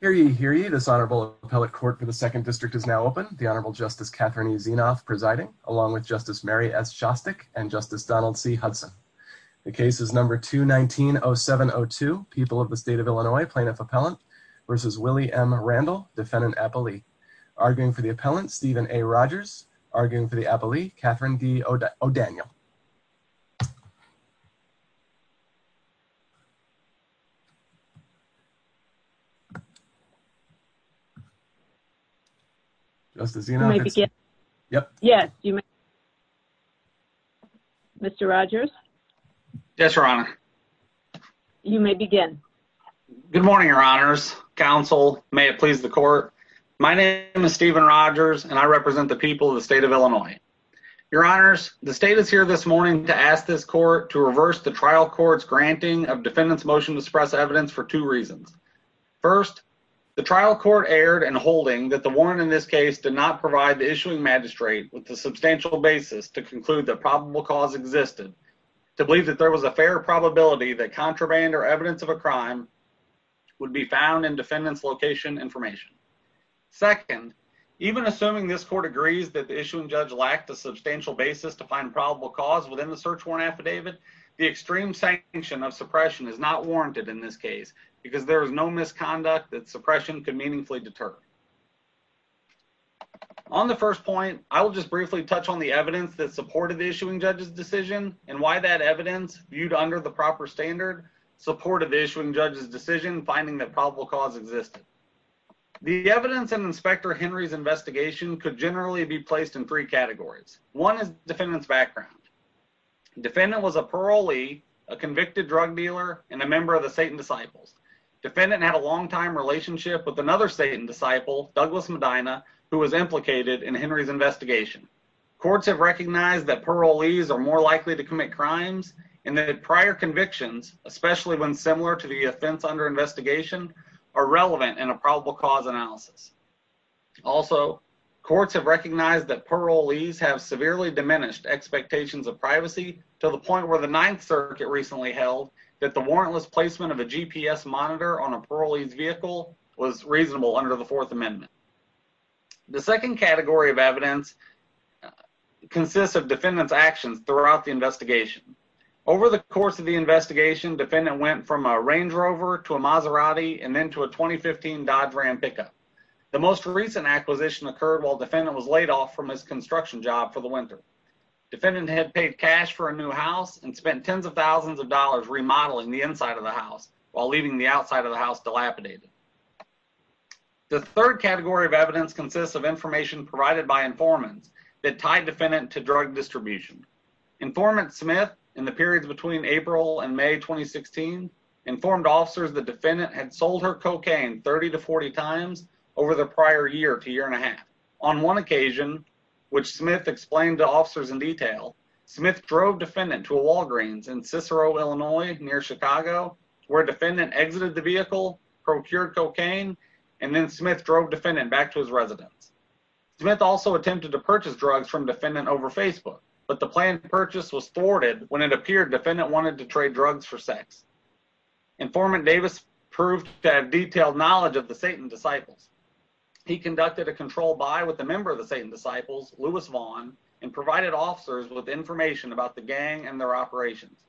Hear ye, hear ye, this Honorable Appellate Court for the Second District is now open. The Honorable Justice Catherine E. Zinoff presiding, along with Justice Mary S. Shostak and Justice Donald C. Hudson. The case is number 219-0702, People of the State of Illinois, Plaintiff Appellant v. Willie M. Randle, Defendant Appellee. Arguing for the Appellant, Stephen A. Rogers. Arguing for the Appellee, Catherine D. O'Daniel. Justice Zinoff, yes, Mr. Rogers, yes, Your Honor. You may begin. Good morning, Your Honors, Counsel, may it please the Court. My name is Stephen Rogers and I represent the people of the State of Illinois. Your Honors, the State is here this morning to ask this Court to reverse the trial court's granting of defendant's motion to suppress evidence for two reasons. First, the trial court erred in holding that the warrant in this case did not provide the issuing magistrate with the substantial basis to conclude that probable cause existed to believe that there was a fair probability that contraband or evidence of a crime would be found in defendant's location information. Second, even assuming this Court agrees that the issuing judge lacked a substantial basis to find probable cause within the search warrant affidavit, the extreme sanction of suppression is not warranted in this case because there is no misconduct that suppression could meaningfully deter. On the first point, I will just briefly touch on the evidence that supported the issuing judge's decision and why that evidence, viewed under the proper standard, supported the issuing judge's decision finding that probable cause existed. The evidence in Inspector Henry's investigation could generally be placed in three categories. One is defendant's background. Defendant was a parolee, a convicted drug dealer, and a member of the Satan Disciples. Defendant had a long-time relationship with another Satan Disciple, Douglas Medina, who was implicated in Henry's investigation. Courts have recognized that parolees are more likely to commit crimes and that prior convictions, especially when similar to the offense under investigation, are relevant in a probable cause analysis. Also, courts have recognized that parolees have severely diminished expectations of privacy to the point where the Ninth Circuit recently held that the warrantless placement of a GPS monitor on a parolee's vehicle was reasonable under the Fourth Amendment. The second category of evidence consists of defendant's actions throughout the investigation. Over the course of the investigation, defendant went from a Range Rover to a Maserati and then to a 2015 Dodge Ram pickup. The most recent acquisition occurred while defendant was laid off from his construction job for the winter. Defendant had paid cash for a new house and spent tens of thousands of dollars remodeling the inside of the house while leaving the outside of the house dilapidated. The third category of evidence consists of information provided by informants that tied defendant to drug distribution. Informant Smith, in the periods between April and May 2016, informed officers that defendant had sold her cocaine 30 to 40 times over the prior year to year and a half. On one occasion, which Smith explained to officers in detail, Smith drove defendant to a Walgreens in Cicero, Illinois, near Chicago, where defendant exited the vehicle, procured cocaine, and then Smith drove defendant back to his residence. Smith also attempted to purchase drugs from defendant over Facebook, but the planned purchase was thwarted when it appeared defendant wanted to trade drugs for sex. Informant Davis proved to have detailed knowledge of the Satan Disciples. He conducted a control buy with a member of the Satan Disciples, Louis Vaughn, and provided officers with information about the gang and their operations.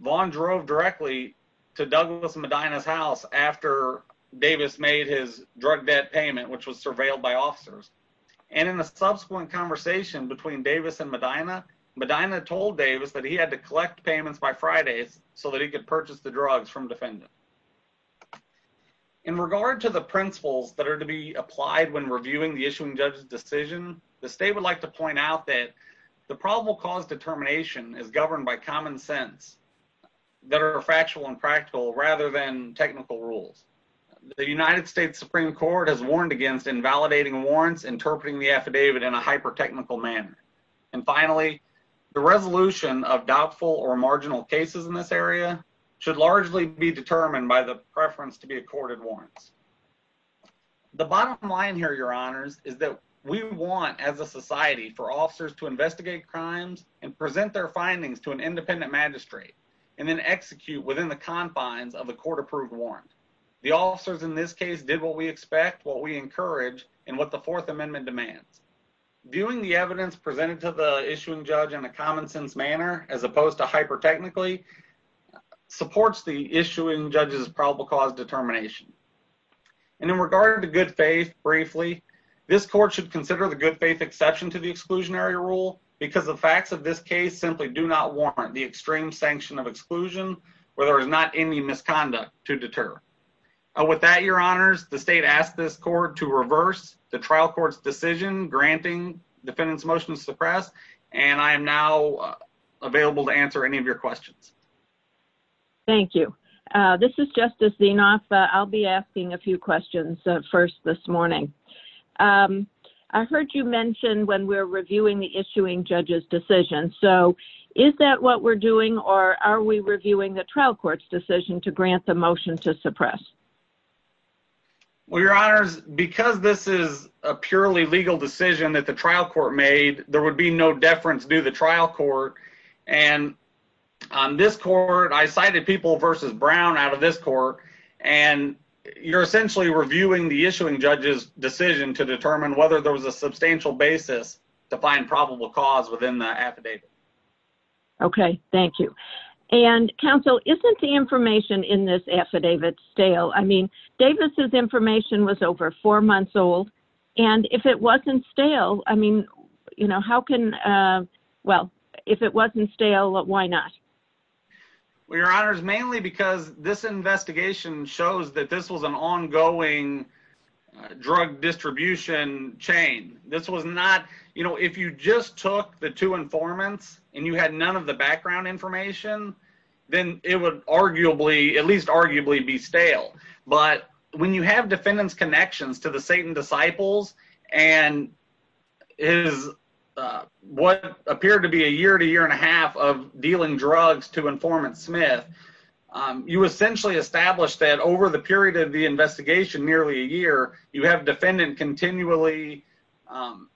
Vaughn drove directly to Douglas Medina's house after Davis made his drug debt payment, which was surveilled by officers. And in a subsequent conversation between Davis and Medina, Medina told Davis that he had to collect payments by Fridays so that he could purchase the drugs from defendant. In regard to the principles that are to be applied when reviewing the issuing judge's decision, the state would like to point out that the probable cause determination is governed by common sense that are factual and practical rather than technical rules. The United States Supreme Court has warned against invalidating warrants, interpreting the affidavit in a hyper-technical manner. And finally, the resolution of doubtful or marginal cases in this area should largely be determined by the preference to be accorded warrants. The bottom line here, Your Honors, is that we want, as a society, for officers to investigate crimes and present their findings to an independent magistrate and then execute within the confines of a court-approved warrant. The officers in this case did what we expect, what we encourage, and what the Fourth Amendment demands. Viewing the evidence presented to the issuing judge in a common-sense manner, as opposed to hyper-technically, supports the issuing judge's probable cause determination. And in regard to good faith, briefly, this Court should consider the good faith exception to the exclusionary rule because the facts of this case simply do not warrant the extreme sanction of exclusion where there is not any misconduct to deter. With that, Your Honors, the state asks this Court to reverse the trial court's decision granting defendants motion to suppress. And I am now available to answer any of your questions. Thank you. This is Justice Zinoff. I'll be asking a few questions first this morning. I heard you mention when we're reviewing the issuing judge's decision. So is that what we're doing, or are we reviewing the trial court's decision to grant the motion to suppress? Well, Your Honors, because this is a purely legal decision that the trial court made, there would be no deference due the trial court. And on this court, I cited people versus Brown out of this court, and you're essentially reviewing the issuing judge's decision to determine whether there was a substantial basis to find probable cause within the affidavit. Okay. Thank you. And, counsel, isn't the information in this affidavit stale? I mean, Davis' information was over four months old. And if it wasn't stale, I mean, you know, how can, well, if it wasn't stale, why not? Well, Your Honors, mainly because this investigation shows that this was an ongoing drug distribution chain. This was not, you know, if you just took the two informants and you had none of the background information, then it would arguably, at least arguably, be stale. But when you have defendant's connections to the Satan Disciples and his what appeared to be a year to year and a half of dealing drugs to informant Smith, you essentially establish that over the period of the investigation, nearly a year, you have defendant continually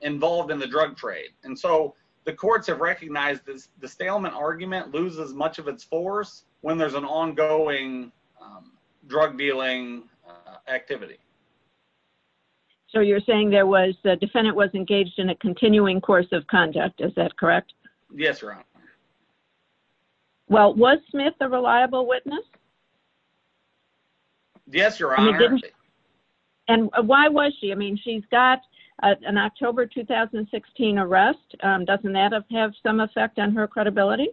involved in the drug trade. And so the courts have recognized that the stalemate argument loses much of its force when there's an ongoing drug dealing activity. So you're saying there was, the defendant was engaged in a continuing course of conduct. Is that correct? Yes, Your Honor. Well, was Smith a reliable witness? Yes, Your Honor. And why was she? I mean, she's got an October 2016 arrest. Doesn't that have some effect on her credibility?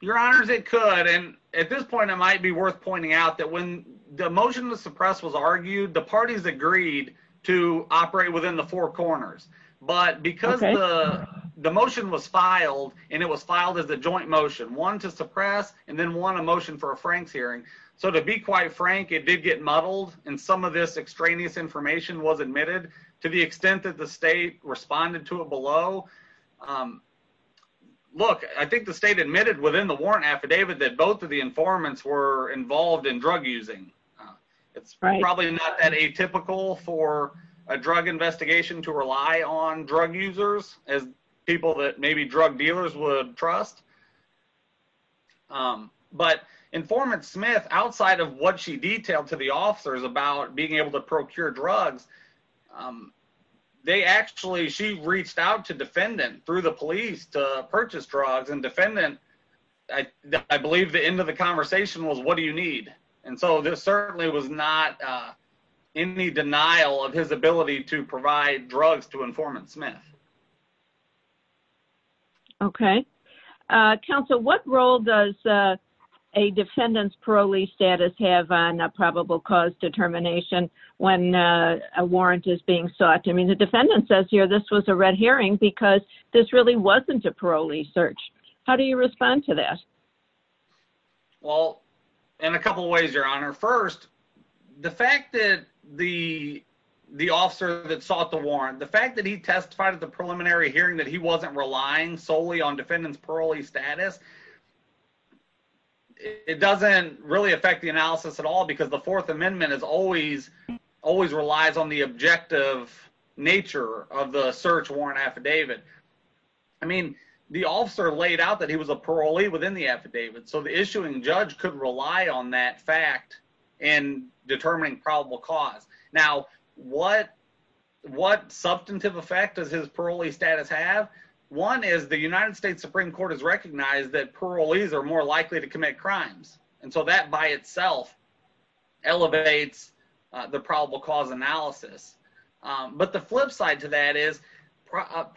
Your Honors, it could. And at this point, it might be worth pointing out that when the motion to suppress was argued, the parties agreed to operate within the four corners. But because the motion was filed and it was filed as a joint motion, one to suppress and then one emotion for a Frank's hearing. So to be quite frank, it did get muddled and some of this extraneous information was admitted to the extent that the state responded to it below. Look, I think the state admitted within the warrant affidavit that both of the informants were involved in drug using. It's probably not that atypical for a drug investigation to rely on drug users as people that maybe drug dealers would trust. But informant Smith, outside of what she detailed to the officers about being able to procure drugs, they actually she reached out to defendant through the police to purchase drugs and defendant. I believe the end of the conversation was, what do you need? And so this certainly was not in the denial of his ability to provide drugs to informant Smith. Okay. Counsel, what role does a defendant's parolee status have on a probable cause determination when a warrant is being sought? I mean, the defendant says here this was a red herring because this really wasn't a parolee search. How do you respond to that? Well, in a couple of ways, Your Honor, first, the fact that the officer that sought the preliminary hearing that he wasn't relying solely on defendants parolee status, it doesn't really affect the analysis at all because the Fourth Amendment is always, always relies on the objective nature of the search warrant affidavit. I mean, the officer laid out that he was a parolee within the affidavit, so the issuing judge could rely on that fact in determining probable cause. Now, what substantive effect does his parolee status have? One is the United States Supreme Court has recognized that parolees are more likely to commit crimes, and so that by itself elevates the probable cause analysis. But the flip side to that is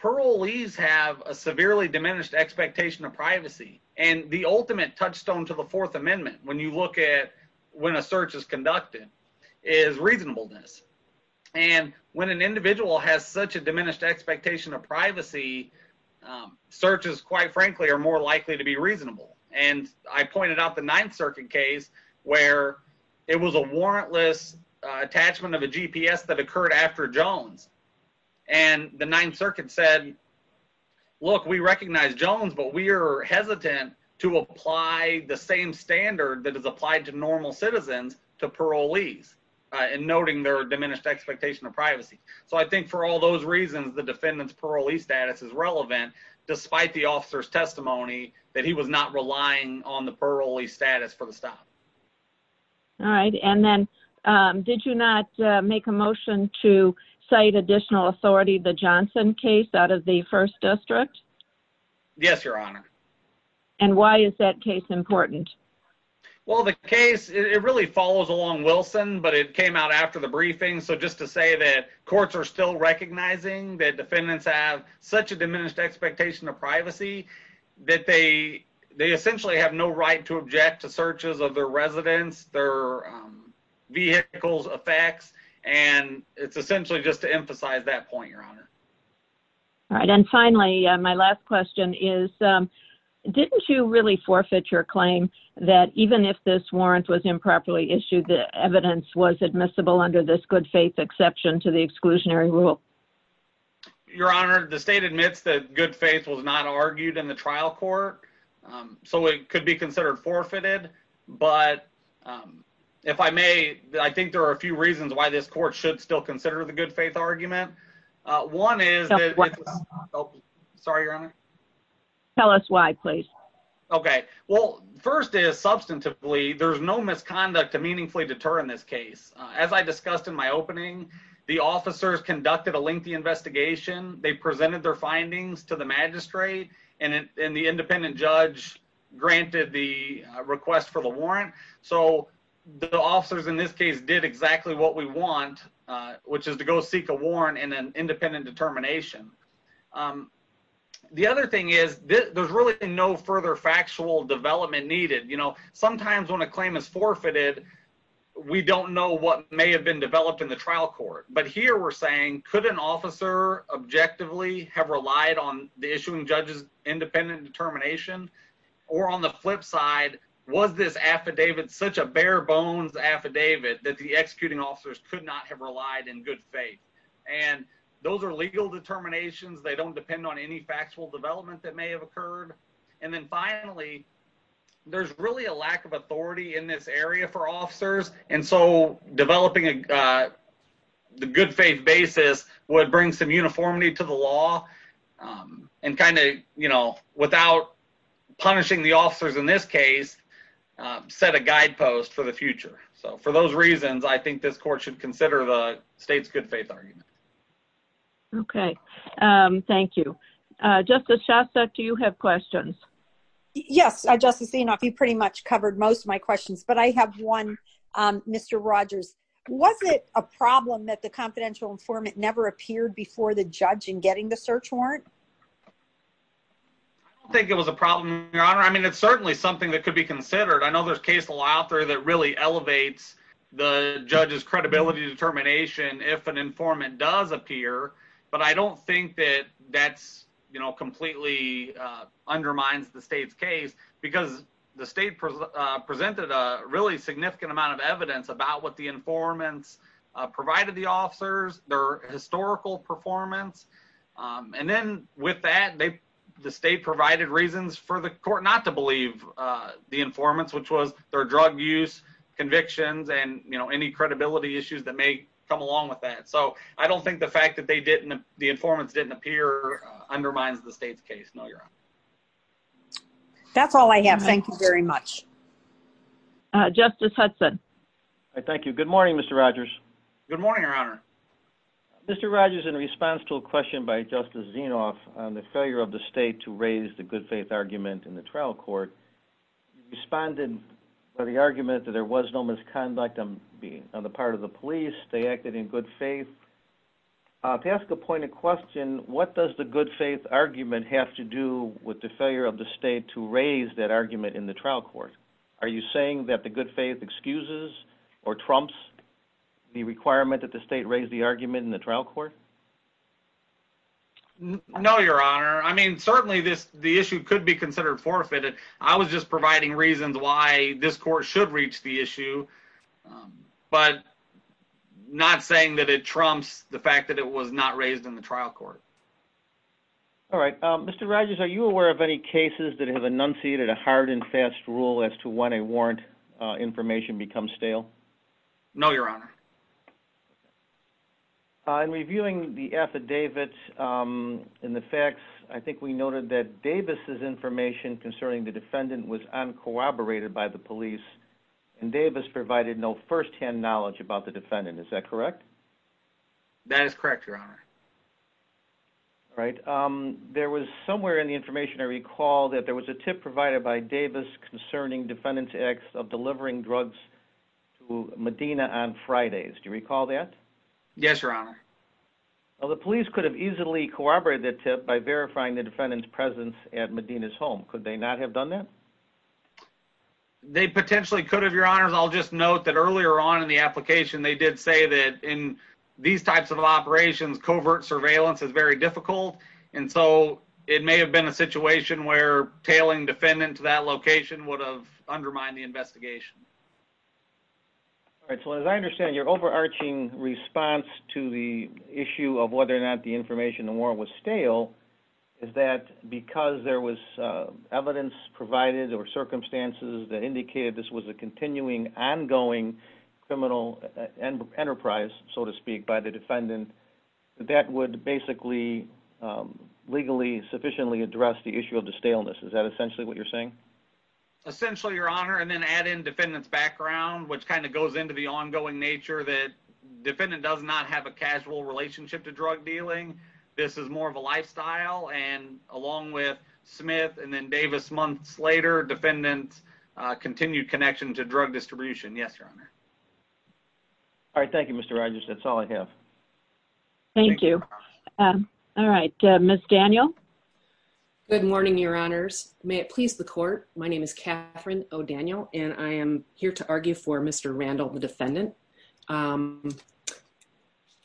parolees have a severely diminished expectation of privacy, and the ultimate touchstone to the Fourth Amendment, when you look at when a search is conducted, is reasonableness. And when an individual has such a diminished expectation of privacy, searches, quite frankly, are more likely to be reasonable. And I pointed out the Ninth Circuit case where it was a warrantless attachment of a GPS that occurred after Jones, and the Ninth Circuit said, look, we recognize Jones, but we are to parolees, and noting their diminished expectation of privacy. So I think for all those reasons, the defendant's parolee status is relevant, despite the officer's testimony that he was not relying on the parolee status for the stop. All right. And then did you not make a motion to cite additional authority, the Johnson case out of the First District? Yes, Your Honor. And why is that case important? Well, the case, it really follows along Wilson, but it came out after the briefing. So just to say that courts are still recognizing that defendants have such a diminished expectation of privacy that they essentially have no right to object to searches of their residents, their vehicles, effects, and it's essentially just to emphasize that point, Your Honor. All right. And then finally, my last question is, didn't you really forfeit your claim that even if this warrant was improperly issued, the evidence was admissible under this good faith exception to the exclusionary rule? Your Honor, the state admits that good faith was not argued in the trial court, so it could be considered forfeited, but if I may, I think there are a few reasons why this court should still consider the good faith argument. One is... Tell us why. Oh, sorry, Your Honor. Tell us why, please. Okay. Well, first is substantively, there's no misconduct to meaningfully deter in this case. As I discussed in my opening, the officers conducted a lengthy investigation, they presented their findings to the magistrate, and the independent judge granted the request for the warrant. So the officers in this case did exactly what we want, which is to go seek a warrant and an independent determination. The other thing is, there's really no further factual development needed. You know, sometimes when a claim is forfeited, we don't know what may have been developed in the trial court. But here we're saying, could an officer objectively have relied on the issuing judge's independent determination? Or on the flip side, was this affidavit such a bare bones affidavit that the executing officers could not have relied in good faith? And those are legal determinations. They don't depend on any factual development that may have occurred. And then finally, there's really a lack of authority in this area for officers. And so developing the good faith basis would bring some uniformity to the law. And kind of, you know, without punishing the officers in this case, set a guidepost for the future. So for those reasons, I think this court should consider the state's good faith argument. Okay. Thank you. Justice Shasta, do you have questions? Yes, Justice Enoff, you pretty much covered most of my questions, but I have one, Mr. Rogers. Was it a problem that the confidential informant never appeared before the judge in getting the search warrant? I don't think it was a problem, Your Honor. I mean, it's certainly something that could be considered. I know there's case law out there that really elevates the judge's credibility determination if an informant does appear. But I don't think that that's, you know, completely undermines the state's case because the state presented a really significant amount of evidence about what the informants provided the officers, their historical performance. And then with that, the state provided reasons for the court not to believe the informants, which was their drug use convictions and, you know, any credibility issues that may come along with that. So I don't think the fact that they didn't, the informants didn't appear undermines the state's case. No, Your Honor. That's all I have. Thank you very much. Justice Hudson. Thank you. Good morning, Mr. Rogers. Good morning, Your Honor. Mr. Rogers, in response to a question by Justice Zinoff on the failure of the state to raise the good faith argument in the trial court, you responded by the argument that there was no misconduct on the part of the police. They acted in good faith. To ask a pointed question, what does the good faith argument have to do with the failure of the state to raise that argument in the trial court? Are you saying that the good faith excuses or trumps the requirement that the state raise the argument in the trial court? No, Your Honor. I mean, certainly this, the issue could be considered forfeited. I was just providing reasons why this court should reach the issue, but not saying that it trumps the fact that it was not raised in the trial court. All right. Mr. Rogers, are you aware of any cases that have enunciated a hard and fast rule as to when a warrant information becomes stale? No, Your Honor. In reviewing the affidavits and the facts, I think we noted that Davis' information concerning the defendant was uncooperated by the police and Davis provided no firsthand knowledge about the defendant. That is correct, Your Honor. All right. There was somewhere in the information I recall that there was a tip provided by Davis concerning defendant's acts of delivering drugs to Medina on Fridays. Do you recall that? Yes, Your Honor. The police could have easily corroborated that tip by verifying the defendant's presence at Medina's home. Could they not have done that? They potentially could have, Your Honor, and I'll just note that earlier on in the application they did say that in these types of operations, covert surveillance is very difficult, and so it may have been a situation where tailing defendant to that location would have undermined the investigation. All right. So as I understand, your overarching response to the issue of whether or not the information in the warrant was stale is that because there was evidence provided or circumstances that were enterprised, so to speak, by the defendant, that that would basically legally sufficiently address the issue of the staleness. Is that essentially what you're saying? Essentially, Your Honor, and then add in defendant's background, which kind of goes into the ongoing nature that defendant does not have a casual relationship to drug dealing. This is more of a lifestyle, and along with Smith and then Davis months later, defendant continued connection to drug distribution. Yes, Your Honor. All right. Thank you, Mr. Rogers. That's all I have. Thank you. All right. Ms. Daniel. Good morning, Your Honors. May it please the court. My name is Catherine O'Daniel, and I am here to argue for Mr. Randall, the defendant. I'm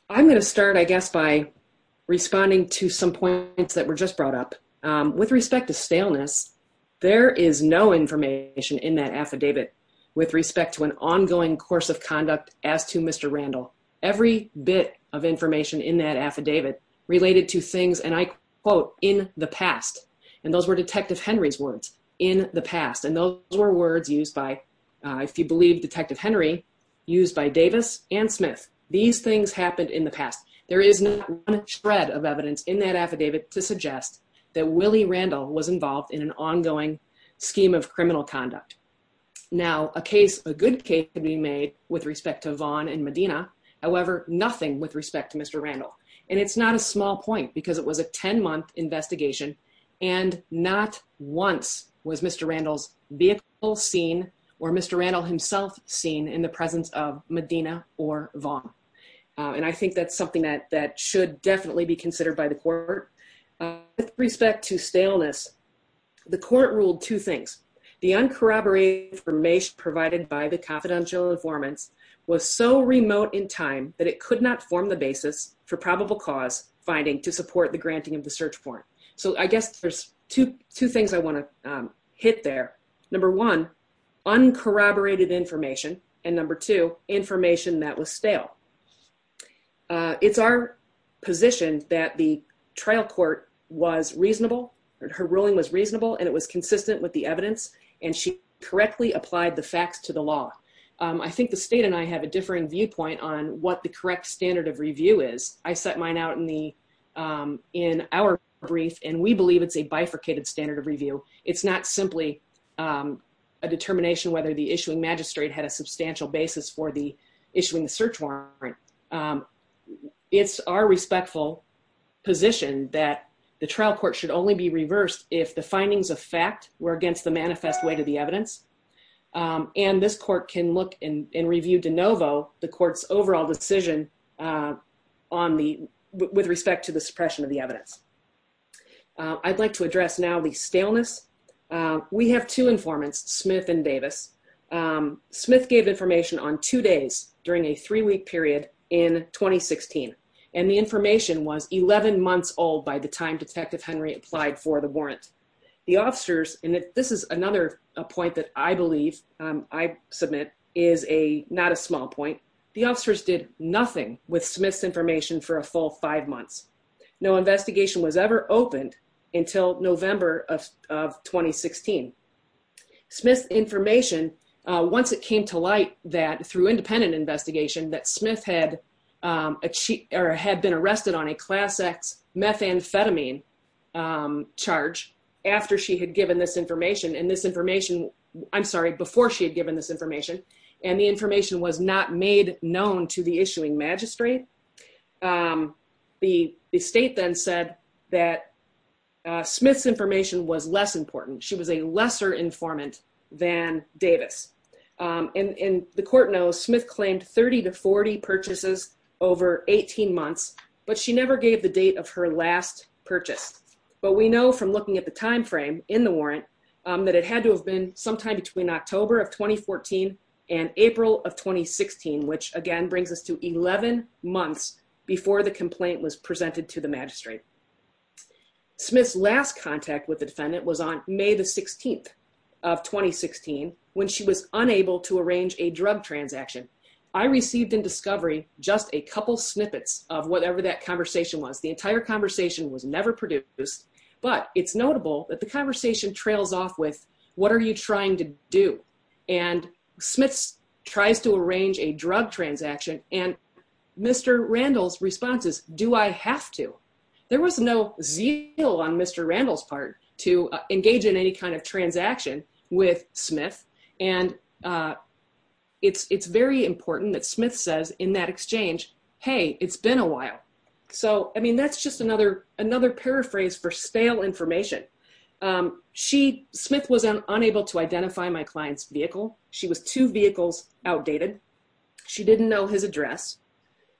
going to start, I guess, by responding to some points that were just brought up. With respect to staleness, there is no information in that affidavit with respect to an ongoing course of conduct as to Mr. Randall. Every bit of information in that affidavit related to things, and I quote, in the past, and those were Detective Henry's words, in the past, and those were words used by, if you believe Detective Henry, used by Davis and Smith. These things happened in the past. There is not one shred of evidence in that affidavit to suggest that Willie Randall was involved in an ongoing scheme of criminal conduct. Now, a good case can be made with respect to Vaughn and Medina, however, nothing with respect to Mr. Randall, and it's not a small point, because it was a 10-month investigation, and not once was Mr. Randall's vehicle seen or Mr. Randall himself seen in the presence of Medina or Vaughn, and I think that's something that should definitely be considered by the court. With respect to staleness, the court ruled two things. The uncorroborated information provided by the confidential informants was so remote in time that it could not form the basis for probable cause finding to support the granting of the search warrant. So, I guess there's two things I want to hit there. Number one, uncorroborated information, and number two, information that was stale. It's our position that the trial court was reasonable, her ruling was reasonable, and it was consistent with the evidence, and she correctly applied the facts to the law. I think the state and I have a differing viewpoint on what the correct standard of review is. I set mine out in our brief, and we believe it's a bifurcated standard of review. It's not simply a determination whether the issuing magistrate had a substantial basis for the issuing the search warrant. It's our respectful position that the trial court should only be reversed if the findings of fact were against the manifest way to the evidence, and this court can look and review de novo the court's overall decision with respect to the suppression of the evidence. I'd like to address now the staleness. We have two informants, Smith and Davis. Smith gave information on two days during a three-week period in 2016, and the information was 11 months old by the time Detective Henry applied for the warrant. The officers, and this is another point that I believe I submit is not a small point, the officers did nothing with Smith's information for a full five months. No investigation was ever opened until November of 2016. Smith's information, once it came to light that through independent investigation that had been arrested on a class X methamphetamine charge after she had given this information, and this information, I'm sorry, before she had given this information, and the information was not made known to the issuing magistrate, the state then said that Smith's information was less important. She was a lesser informant than Davis, and the court knows Smith claimed 30 to 40 purchases over 18 months, but she never gave the date of her last purchase. But we know from looking at the time frame in the warrant that it had to have been sometime between October of 2014 and April of 2016, which again brings us to 11 months before the complaint was presented to the magistrate. Smith's last contact with the defendant was on May the 16th of 2016 when she was unable to arrange a drug transaction. I received in discovery just a couple snippets of whatever that conversation was. The entire conversation was never produced, but it's notable that the conversation trails off with, what are you trying to do? And Smith tries to arrange a drug transaction, and Mr. Randall's response is, do I have to? There was no zeal on Mr. Randall's part to engage in any kind of transaction with Smith, and it's very important that Smith says in that exchange, hey, it's been a while. So, I mean, that's just another paraphrase for stale information. Smith was unable to identify my client's vehicle. She was two vehicles outdated. She didn't know his address.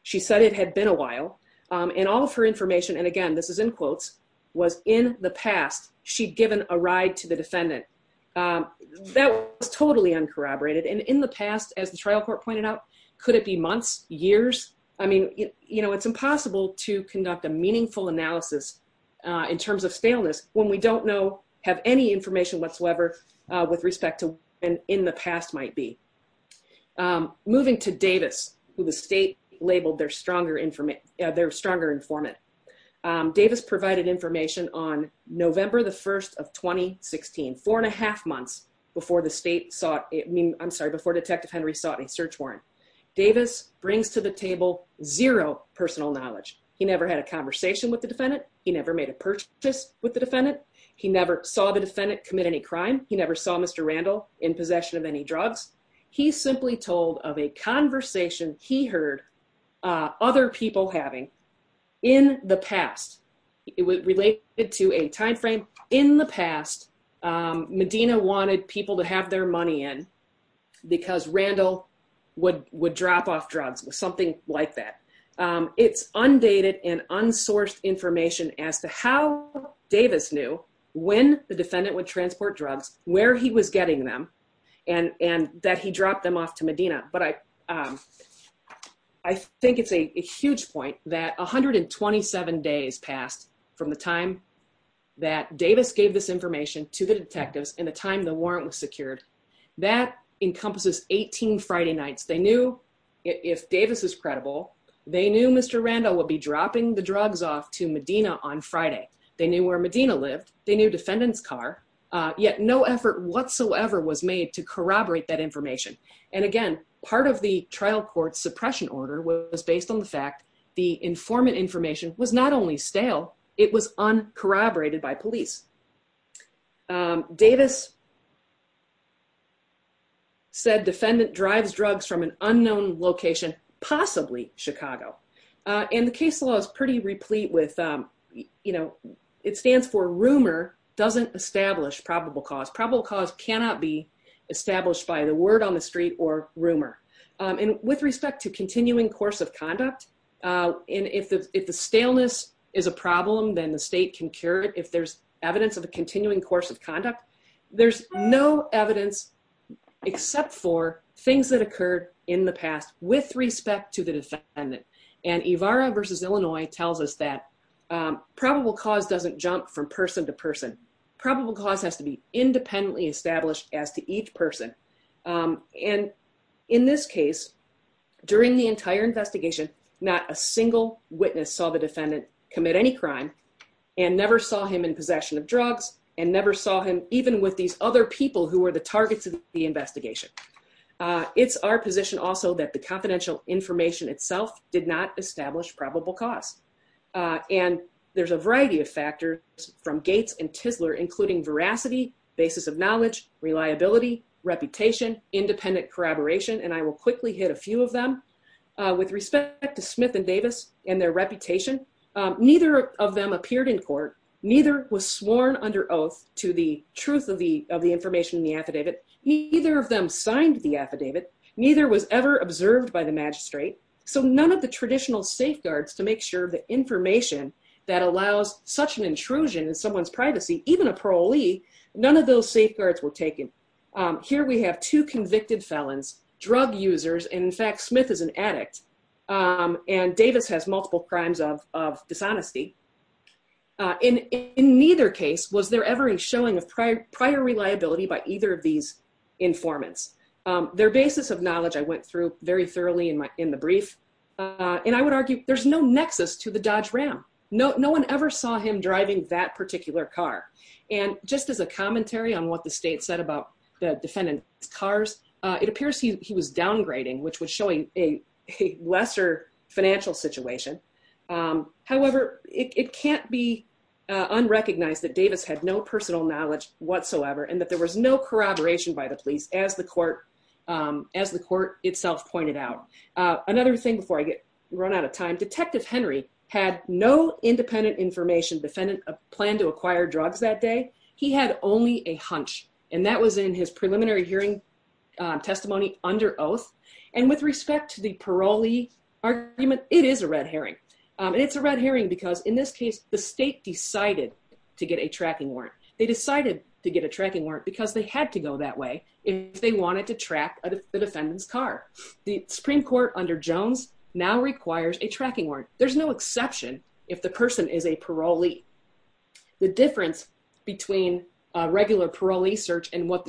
She said it had been a while, and all of her information, and again, this is in quotes, She'd given a ride to the defendant. That was totally uncorroborated, and in the past, as the trial court pointed out, could it be months, years? I mean, you know, it's impossible to conduct a meaningful analysis in terms of staleness when we don't know, have any information whatsoever with respect to when in the past might be. Moving to Davis, who the state labeled their stronger informant. Davis provided information on November the 1st of 2016, four and a half months before the state sought, I mean, I'm sorry, before Detective Henry sought a search warrant. Davis brings to the table zero personal knowledge. He never had a conversation with the defendant. He never made a purchase with the defendant. He never saw the defendant commit any crime. He never saw Mr. Randall in possession of any drugs. He's simply told of a conversation he heard other people having in the past. It was related to a time frame in the past. Medina wanted people to have their money in because Randall would drop off drugs, something like that. It's undated and unsourced information as to how Davis knew when the defendant would that he dropped them off to Medina. But I think it's a huge point that 127 days passed from the time that Davis gave this information to the detectives and the time the warrant was secured. That encompasses 18 Friday nights. They knew if Davis is credible, they knew Mr. Randall would be dropping the drugs off to Medina on Friday. They knew where Medina lived. They knew defendant's car. Yet no effort whatsoever was made to corroborate that information. And again, part of the trial court suppression order was based on the fact the informant information was not only stale, it was uncorroborated by police. Davis said defendant drives drugs from an unknown location, possibly Chicago. And the case law is pretty replete with, you know, it stands for rumor doesn't establish probable cause. Probable cause cannot be established by the word on the street or rumor. And with respect to continuing course of conduct, and if the staleness is a problem, then the state can cure it. If there's evidence of a continuing course of conduct, there's no evidence except for things that occurred in the past with respect to the defendant. And Evara versus Illinois tells us that probable cause doesn't jump from person to person. Probable cause has to be independently established as to each person. And in this case, during the entire investigation, not a single witness saw the defendant commit any crime and never saw him in possession of drugs and never saw him even with these other people who were the targets of the investigation. It's our position also that the confidential information itself did not establish probable cause. And there's a variety of factors from Gates and Tisler, including veracity, basis of knowledge, reliability, reputation, independent corroboration. And I will quickly hit a few of them. With respect to Smith and Davis and their reputation, neither of them appeared in court. Neither was sworn under oath to the truth of the information in the affidavit. Neither of them signed the affidavit. Neither was ever observed by the magistrate. So none of the traditional safeguards to make sure the information that allows such an intrusion in someone's privacy, even a parolee, none of those safeguards were taken. Here we have two convicted felons, drug users. And in fact, Smith is an addict. And Davis has multiple crimes of dishonesty. In neither case was there ever a showing of prior reliability by either of these informants. Their basis of knowledge I went through very thoroughly in the brief. And I would argue there's no nexus to the Dodge Ram. No one ever saw him driving that particular car. And just as a commentary on what the state said about the defendant's cars, it appears he was downgrading, which was showing a lesser financial situation. However, it can't be unrecognized that Davis had no personal knowledge whatsoever and that there was no corroboration by the police, as the court itself pointed out. Another thing before I get run out of time, Detective Henry had no independent information. Defendant planned to acquire drugs that day. He had only a hunch. And that was in his preliminary hearing testimony under oath. And with respect to the parolee argument, it is a red herring. And it's a red herring because in this case, the state decided to get a tracking warrant. They decided to get a tracking warrant because they had to go that way if they wanted to track the defendant's car. The Supreme Court under Jones now requires a tracking warrant. There's no exception if the person is a parolee. The difference between a regular parolee search and what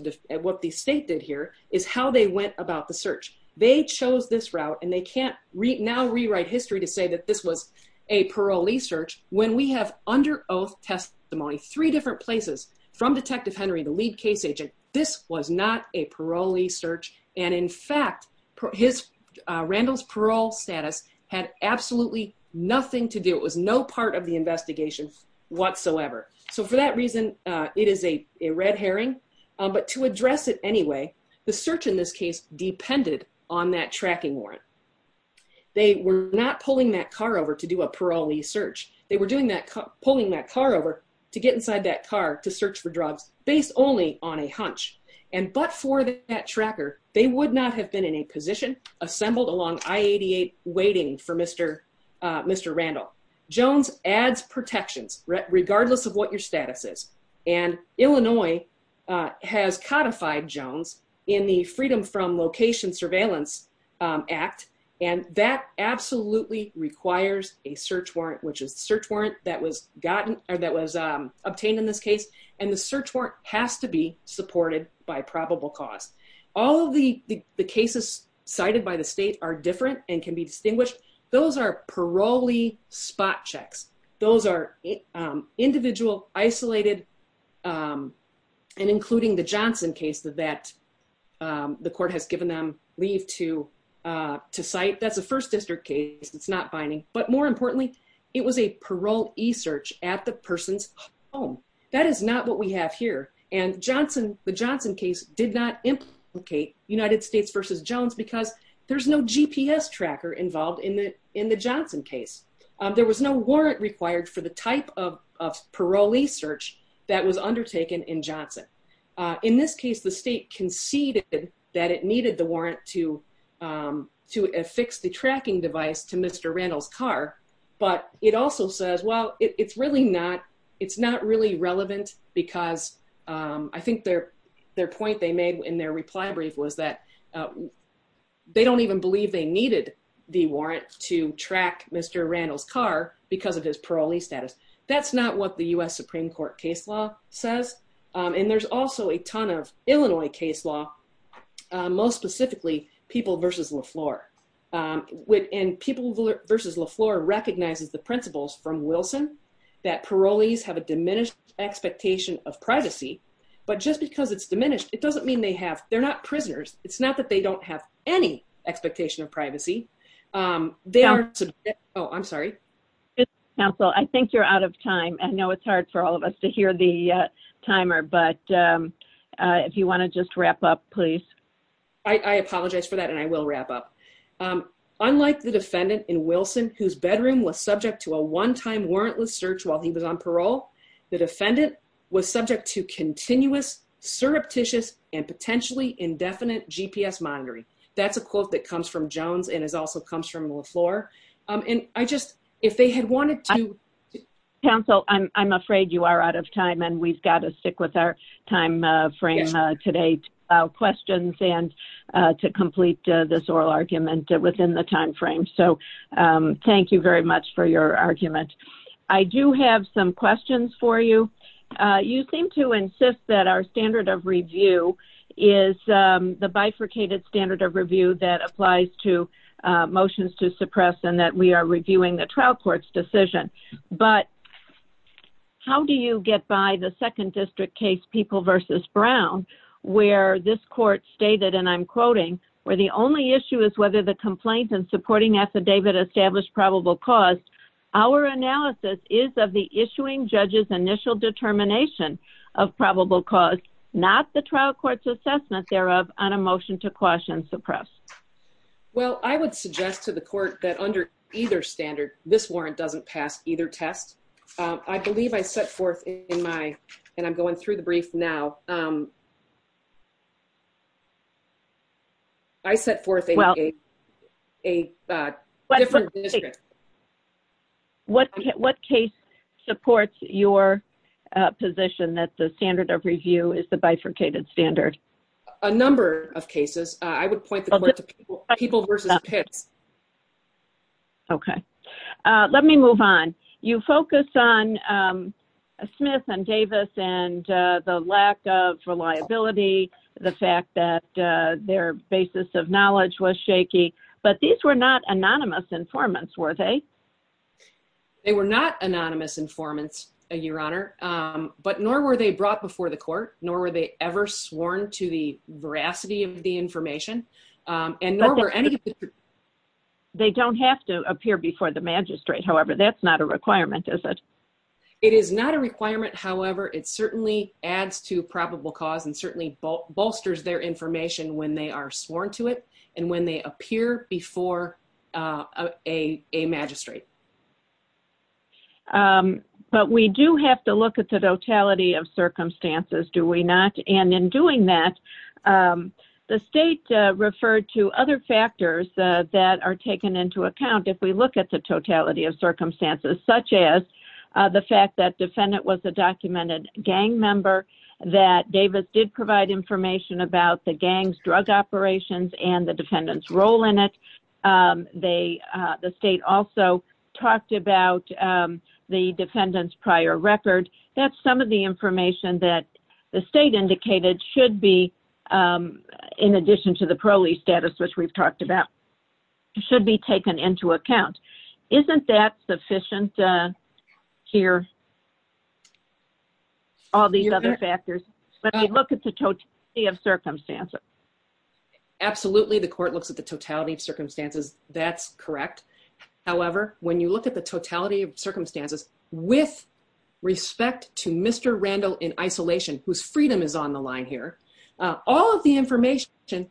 the state did here is how they went about the search. They chose this route and they can't now rewrite history to say that this was a parolee search when we have under oath testimony, three different places from Detective Henry, the lead case agent, this was not a parolee search. And in fact, Randall's parole status had absolutely nothing to do. It was no part of the investigation whatsoever. So for that reason, it is a red herring. But to address it anyway, the search in this case depended on that tracking warrant. They were not pulling that car over to do a parolee search. Pulling that car over to get inside that car to search for drugs based only on a hunch. And but for that tracker, they would not have been in a position assembled along I-88 waiting for Mr. Randall. Jones adds protections regardless of what your status is. And Illinois has codified Jones in the Freedom from Location Surveillance Act. And that absolutely requires a search warrant, which is the search warrant that was gotten or that was obtained in this case. And the search warrant has to be supported by probable cause. All of the cases cited by the state are different and can be distinguished. Those are parolee spot checks. Those are individual isolated and including the Johnson case that the court has given them to cite. That's a first district case. It's not binding. But more importantly, it was a parolee search at the person's home. That is not what we have here. And the Johnson case did not implicate United States versus Jones because there's no GPS tracker involved in the Johnson case. There was no warrant required for the type of parolee search that was undertaken in Johnson. In this case, the state conceded that it needed the warrant to affix the tracking device to Mr. Randall's car. But it also says, well, it's not really relevant because I think their point they made in their reply brief was that they don't even believe they needed the warrant to track Mr. Randall's car because of his parolee status. That's not what the U.S. Supreme Court case law says. And there's also a ton of Illinois case law. Most specifically, People v. LaFleur. And People v. LaFleur recognizes the principles from Wilson that parolees have a diminished expectation of privacy. But just because it's diminished, it doesn't mean they have. They're not prisoners. It's not that they don't have any expectation of privacy. Oh, I'm sorry. Counsel, I think you're out of time. I know it's hard for all of us to hear the timer. But if you want to just wrap up, please. I apologize for that. And I will wrap up. Unlike the defendant in Wilson, whose bedroom was subject to a one-time warrantless search while he was on parole, the defendant was subject to continuous, surreptitious, and potentially indefinite GPS monitoring. That's a quote that comes from Jones and also comes from LaFleur. And I just, if they had wanted to. Counsel, I'm afraid you are out of time. And we've got to stick with our time frame today to allow questions and to complete this oral argument within the time frame. So thank you very much for your argument. I do have some questions for you. You seem to insist that our standard of review is the bifurcated standard of review that applies to motions to suppress and that we are reviewing the trial court's decision. But how do you get by the second district case, People v. Brown, where this court stated, and I'm quoting, where the only issue is whether the complaint and supporting affidavit established probable cause. Our analysis is of the issuing judge's initial determination of probable cause, not the trial court's assessment thereof on a motion to quash and suppress. Well, I would suggest to the court that under either standard this warrant doesn't pass either test. I believe I set forth in my, and I'm going through the brief now. I set forth a different district. What case supports your position that the standard of review is the bifurcated standard? A number of cases. I would point the court to People v. Pitts. Okay, let me move on. You focus on Smith and Davis and the lack of reliability, the fact that their basis of knowledge was shaky, but these were not anonymous informants, were they? They were not anonymous informants, Your Honor, but nor were they brought before the court, nor were they ever sworn to the veracity of the information. They don't have to appear before the magistrate. However, that's not a requirement, is it? It is not a requirement. However, it certainly adds to probable cause and certainly bolsters their information when they are sworn to it and when they appear before a magistrate. But we do have to look at the totality of circumstances, do we not? And in doing that, the state referred to other factors that are taken into account if we look at the totality of circumstances, such as the fact that defendant was a documented gang member, that Davis did provide information about the gang's drug operations and the defendant's role in it. They, the state also talked about the defendant's prior record. That's some of the information that the state indicated should be, in addition to the parolee status, which we've talked about, should be taken into account. Isn't that sufficient here? All these other factors, but they look at the totality of circumstances. Absolutely, the court looks at the totality of circumstances. That's correct. However, when you look at the totality of circumstances with respect to Mr. Randall in isolation, whose freedom is on the line here, all of the information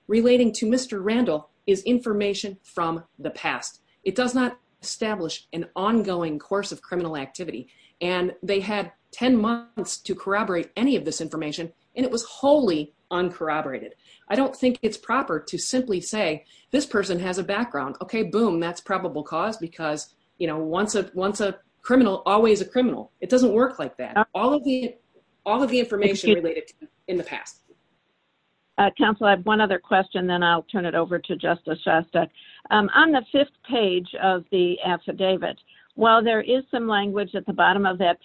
relating to Mr. Randall is information from the past. It does not establish an ongoing course of criminal activity. And they had 10 months to corroborate any of this information, and it was wholly uncorroborated. I don't think it's proper to simply say, this person has a background. Okay, boom, that's probable cause because, you know, once a criminal, always a criminal. It doesn't work like that. All of the information related in the past. Counsel, I have one other question, then I'll turn it over to Justice Shostak. On the fifth page of the affidavit, while there is some language at the bottom of that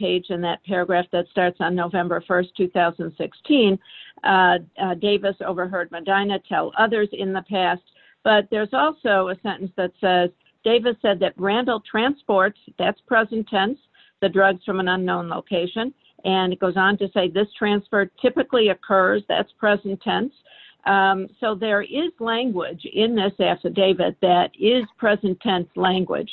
paragraph that starts on November 1, 2016, Davis overheard Medina tell others in the past. But there's also a sentence that says, Davis said that Randall transports, that's present tense, the drugs from an unknown location. And it goes on to say, this transfer typically occurs, that's present tense. So there is language in this affidavit that is present tense language.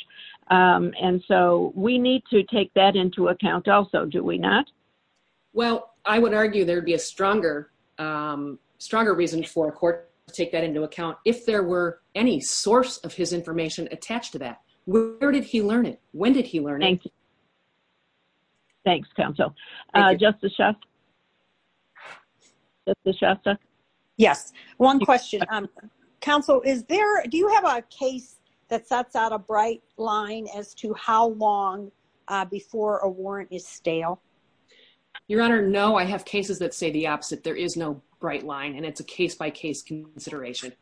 And so we need to take that into account. Also, do we not? Well, I would argue there'd be a stronger, stronger reason for a court to take that into account. If there were any source of his information attached to that, where did he learn it? When did he learn it? Thanks, Counsel. Justice Shostak? Yes, one question. Counsel, do you have a case that sets out a bright line as to how long before a warrant is stale? Your Honor, no. I have cases that say the opposite. There is no bright line. And it's a case-by-case consideration.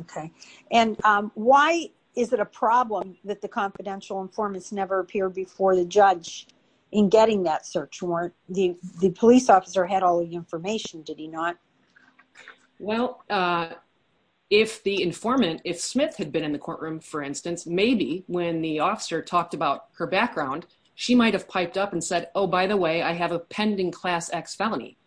Okay. And why is it a problem that the confidential informants never appear before the judge in getting that search warrant? The police officer had all the information, did he not? Well, if the informant, if Smith had been in the courtroom, for instance, maybe when the officer talked about her background, she might have piped up and said, oh, by the way, I have a pending Class X felony.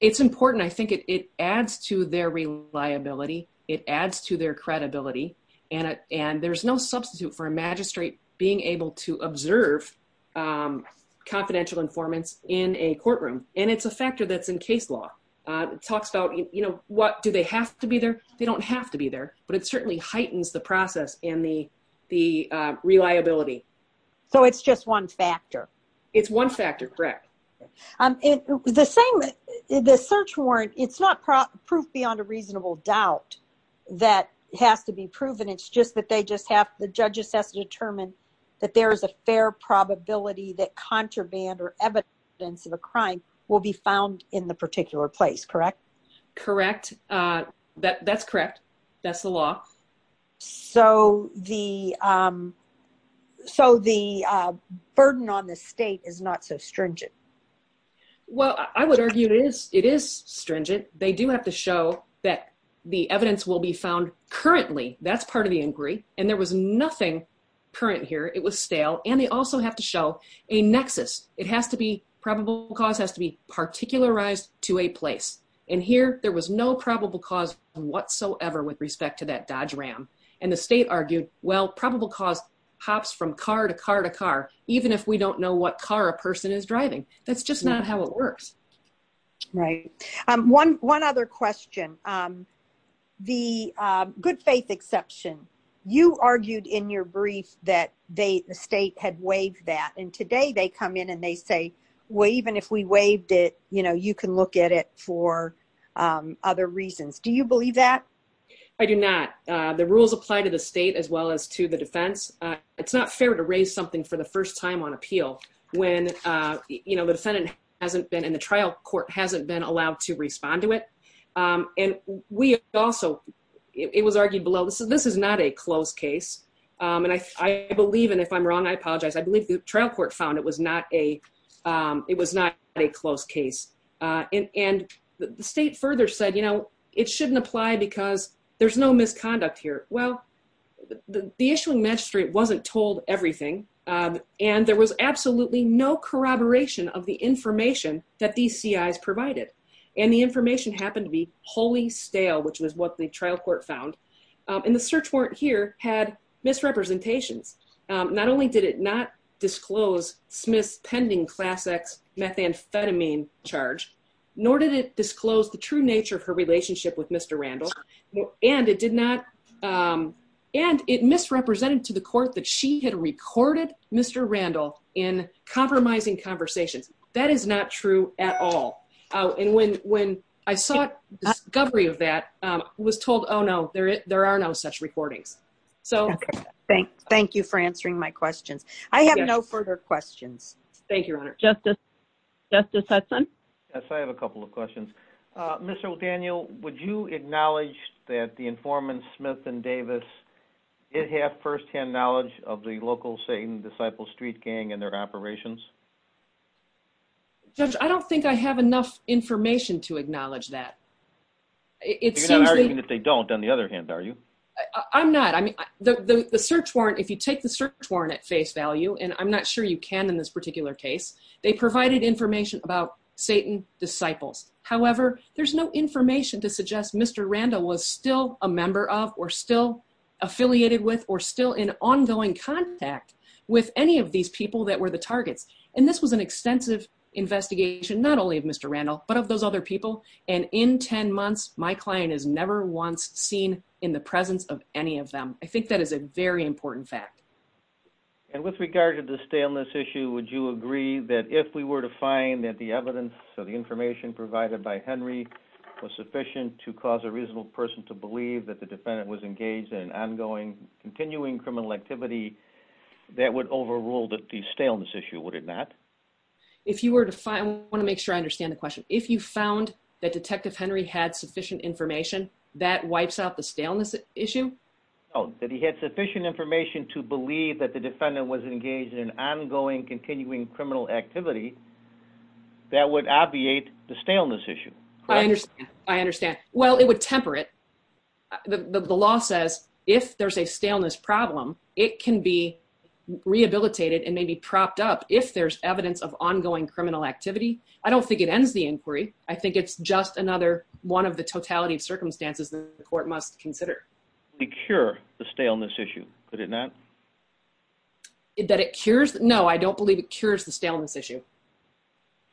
It's important. I think it adds to their reliability. It adds to their credibility. And there's no substitute for a magistrate being able to observe confidential informants in a courtroom. And it's a factor that's in case law. It talks about, you know, what, do they have to be there? They don't have to be there. But it certainly heightens the process and the reliability. So it's just one factor? It's one factor, correct. The same, the search warrant, it's not proof beyond a reasonable doubt that has to be proven. It's just that they just have, the judge just has to determine that there is a fair probability that contraband or evidence of a crime will be found in the particular place, correct? Correct. That's correct. That's the law. So the burden on the state is not so stringent? Well, I would argue it is. It is stringent. They do have to show that the evidence will be found currently. That's part of the inquiry. And there was nothing current here. It was stale. And they also have to show a nexus. It has to be, probable cause has to be particularized to a place. And here, there was no probable cause whatsoever with respect to that Dodge Ram. And the state argued, well, probable cause hops from car to car to car, even if we don't know what car a person is driving. That's just not how it works. Right. One other question. The good faith exception. You argued in your brief that the state had waived that. And today they come in and they say, well, even if we waived it, you know, you can look at it for other reasons. Do you believe that? I do not. The rules apply to the state as well as to the defense. It's not fair to raise something for the first time on appeal when, you know, the defendant hasn't been, and the trial court hasn't been allowed to respond to it. And we also, it was argued below, this is not a closed case. And I believe, and if I'm wrong, I apologize. I believe the trial court found it was not a, it was not a closed case. And the state further said, you know, it shouldn't apply because there's no misconduct here. Well, the issuing magistrate wasn't told everything. And there was absolutely no corroboration of the information that these CIs provided. And the information happened to be wholly stale, which was what the trial court found. And the search warrant here had misrepresentations. Not only did it not disclose Smith's pending Class X methamphetamine charge, nor did it disclose the true nature of her relationship with Mr. Randall. And it did not, and it misrepresented to the court that she had recorded Mr. Randall in compromising conversations. That is not true at all. And when I saw a discovery of that, I was told, oh, no, there are no such recordings. So... Thank you for answering my questions. I have no further questions. Thank you, Your Honor. Justice Hudson? Yes, I have a couple of questions. Mr. O'Daniel, would you acknowledge that the informants, Smith and Davis, did have firsthand knowledge of the local Satan Disciples Street Gang and their operations? Judge, I don't think I have enough information to acknowledge that. It seems that... You're not arguing that they don't, on the other hand, are you? I'm not. I mean, the search warrant, if you take the search warrant at face value, and I'm not sure you can in this particular case, they provided information about Satan Disciples. However, there's no information to suggest Mr. Randall was still a member of, or still affiliated with, or still in ongoing contact with any of these people that were the targets. And this was an extensive investigation, not only of Mr. Randall, but of those other people. And in 10 months, my client is never once seen in the presence of any of them. I think that is a very important fact. And with regard to the staleness issue, would you agree that if we were to find that the evidence, so the information provided by Henry, was sufficient to cause a reasonable person to believe that the defendant was engaged in ongoing, continuing criminal activity, that would overrule the staleness issue, would it not? If you were to find, I want to make sure I understand the question. If you found that Detective Henry had sufficient information, that wipes out the staleness issue? No, that he had sufficient information to believe that the defendant was engaged in ongoing, continuing criminal activity, that would obviate the staleness issue. I understand. I understand. Well, it would temper it. The law says if there's a staleness problem, it can be rehabilitated and may be propped up if there's evidence of ongoing criminal activity. I don't think it ends the inquiry. I think it's just another one of the totality of circumstances that the court must consider. To cure the staleness issue, could it not? That it cures? No, I don't believe it cures the staleness issue.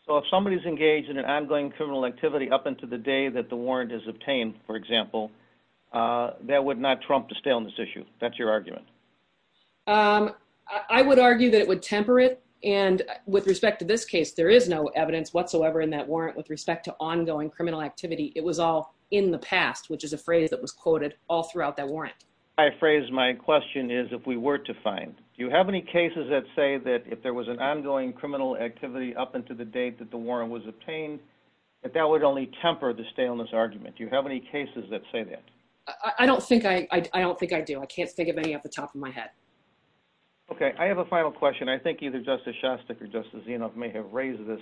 So if somebody's engaged in an ongoing criminal activity up until the day that the warrant is obtained, for example, that would not trump the staleness issue. That's your argument? Um, I would argue that it would temper it. And with respect to this case, there is no evidence whatsoever in that warrant with respect to ongoing criminal activity. It was all in the past, which is a phrase that was quoted all throughout that warrant. My phrase, my question is, if we were to find, do you have any cases that say that if there was an ongoing criminal activity up until the date that the warrant was obtained, that that would only temper the staleness argument? Do you have any cases that say that? I don't think I, I don't think I do. I can't think of any off the top of my head. Okay, I have a final question. I think either Justice Shostak or Justice Zinoff may have raised this.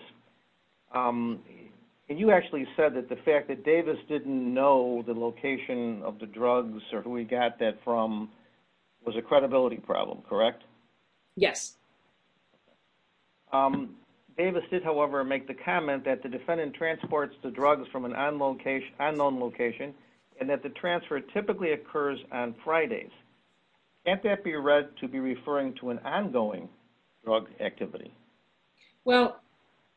And you actually said that the fact that Davis didn't know the location of the drugs or who he got that from was a credibility problem, correct? Yes. Davis did, however, make the comment from an unknown location and that the transfer typically occurs on Fridays. Can't that be read to be referring to an ongoing drug activity? Well,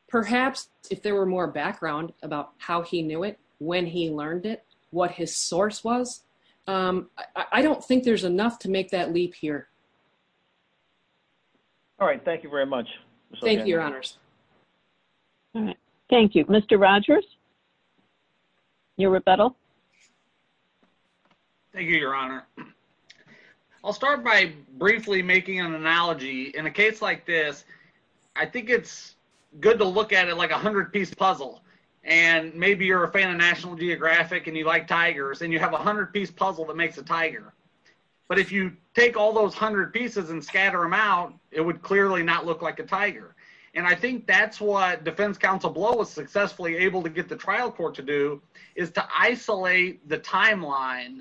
perhaps if there were more background about how he knew it, when he learned it, what his source was. I don't think there's enough to make that leap here. All right, thank you very much. Thank you, Your Honors. All right, thank you. Mr. Rogers, your rebuttal. Thank you, Your Honor. I'll start by briefly making an analogy. In a case like this, I think it's good to look at it like a 100-piece puzzle. And maybe you're a fan of National Geographic and you like tigers, and you have a 100-piece puzzle that makes a tiger. But if you take all those 100 pieces and scatter them out, it would clearly not look like a tiger. And I think that's what Defense Counsel Blow was successfully able to get the trial court to do is to isolate the timeline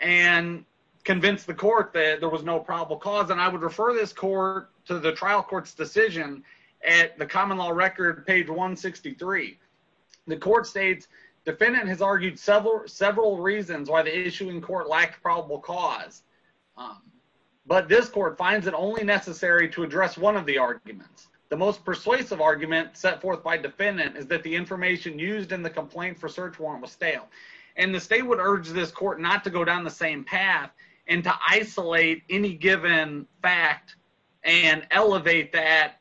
and convince the court that there was no probable cause. And I would refer this court to the trial court's decision at the common law record, page 163. The court states, defendant has argued several reasons why the issuing court lacked probable cause. But this court finds it only necessary to address one of the arguments. The most persuasive argument set forth by defendant is that the information used in the complaint for search warrant was stale. And the state would urge this court not to go down the same path and to isolate any given fact and elevate that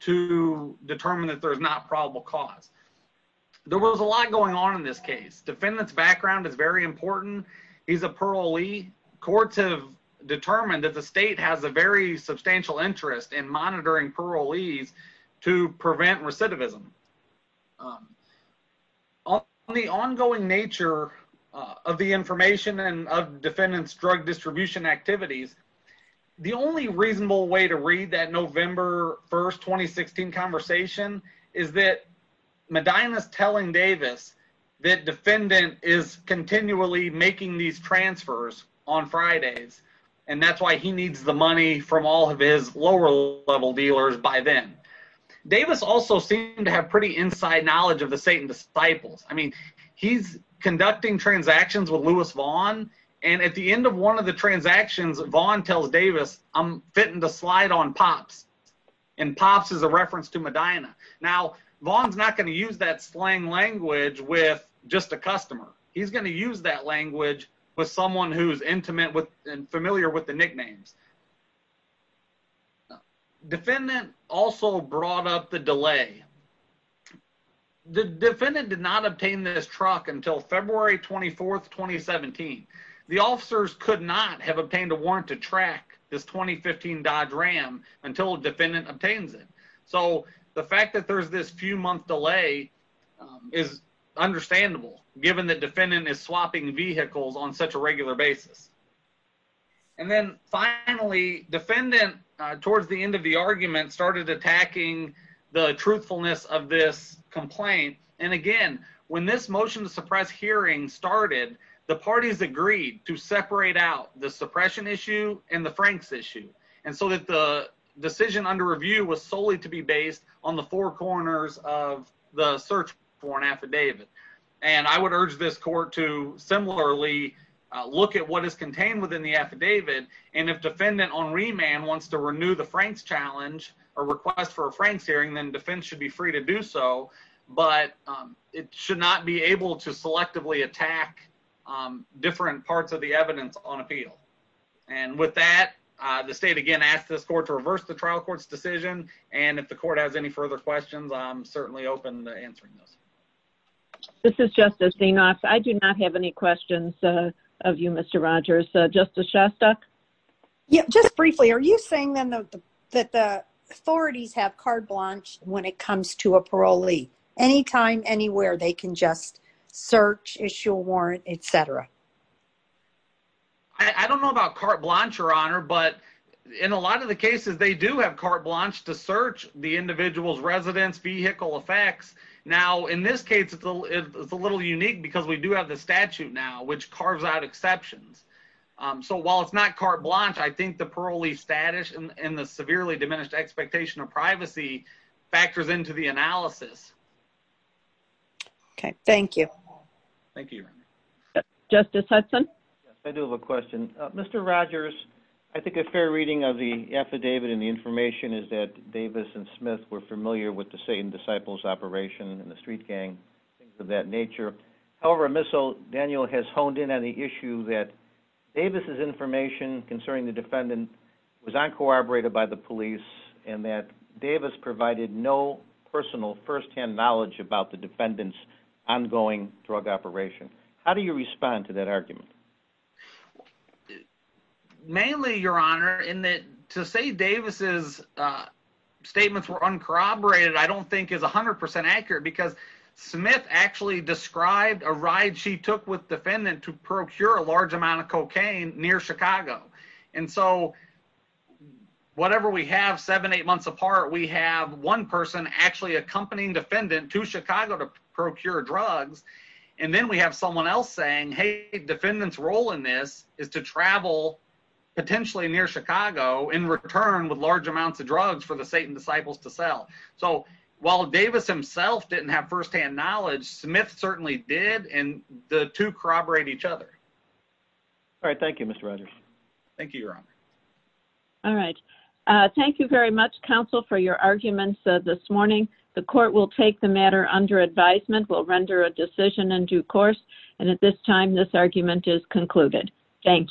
to determine that there's not probable cause. There was a lot going on in this case. Defendant's background is very important. He's a parolee. Courts have determined that the state has a very substantial interest in monitoring parolees to prevent recidivism. On the ongoing nature of the information and of defendant's drug distribution activities, the only reasonable way to read that November 1st, 2016 conversation is that Medina's telling Davis that defendant is continually making these transfers on Fridays. And that's why he needs the money from all of his lower level dealers by then. Davis also seemed to have pretty inside knowledge of the Satan disciples. I mean, he's conducting transactions with Louis Vaughn. And at the end of one of the transactions, Vaughn tells Davis, I'm fitting the slide on Pops. And Pops is a reference to Medina. Now, Vaughn's not gonna use that slang language with just a customer. He's gonna use that language with someone who's intimate with and familiar with the nicknames. Defendant also brought up the delay. The defendant did not obtain this truck until February 24th, 2017. The officers could not have obtained a warrant to track this 2015 Dodge Ram until defendant obtains it. So the fact that there's this few month delay is understandable, given the defendant is swapping vehicles on such a regular basis. And then finally, defendant towards the end of the argument started attacking the truthfulness of this complaint. And again, when this motion to suppress hearing started, the parties agreed to separate out the suppression issue and the Frank's issue. And so that the decision under review was solely to be based on the four corners of the search warrant affidavit. And I would urge this court to similarly look at what is contained within the affidavit. And if defendant on remand wants to renew the Frank's challenge or request for a Frank's hearing, then defense should be free to do so, but it should not be able to selectively attack different parts of the evidence on appeal. And with that, the state again asked this court to reverse the trial court's decision. And if the court has any further questions, I'm certainly open to answering those. This is Justice Zenos. I do not have any questions of you, Mr. Rogers. Justice Shostak? Yeah, just briefly, are you saying then that the authorities have carte blanche when it comes to a parolee? Anytime, anywhere, they can just search, issue a warrant, et cetera. I don't know about carte blanche, Your Honor, but in a lot of the cases, they do have carte blanche to search the individual's residence vehicle effects. Now, in this case, it's a little unique because we do have the statute now, which carves out exceptions. So while it's not carte blanche, I think the parolee status and the severely diminished expectation of privacy factors into the analysis. Okay, thank you. Thank you, Your Honor. Justice Hudson? Yes, I do have a question. Mr. Rogers, I think a fair reading of the affidavit and the information is that Davis and Smith were familiar with the Satan Disciples operation and the street gang, things of that nature. However, Ms. O'Daniel has honed in on the issue that Davis's information concerning the defendant was uncorroborated by the police and that Davis provided no personal firsthand knowledge about the defendant's ongoing drug operation. How do you respond to that argument? Mainly, Your Honor, in that to say Davis's statements were uncorroborated, I don't think is 100% accurate because Smith actually described a ride she took with defendant to procure a large amount of cocaine near Chicago. And so whatever we have, seven, eight months apart, we have one person actually accompanying defendant to Chicago to procure drugs. And then we have someone else saying, hey, defendant's role in this is to travel potentially near Chicago in return with large amounts of drugs for the Satan Disciples to sell. So while Davis himself didn't have firsthand knowledge, Smith certainly did. And the two corroborate each other. All right, thank you, Mr. Rogers. Thank you, Your Honor. All right, thank you very much, counsel for your arguments this morning. The court will take the matter under advisement, will render a decision in due course. And at this time, this argument is concluded. Thank you.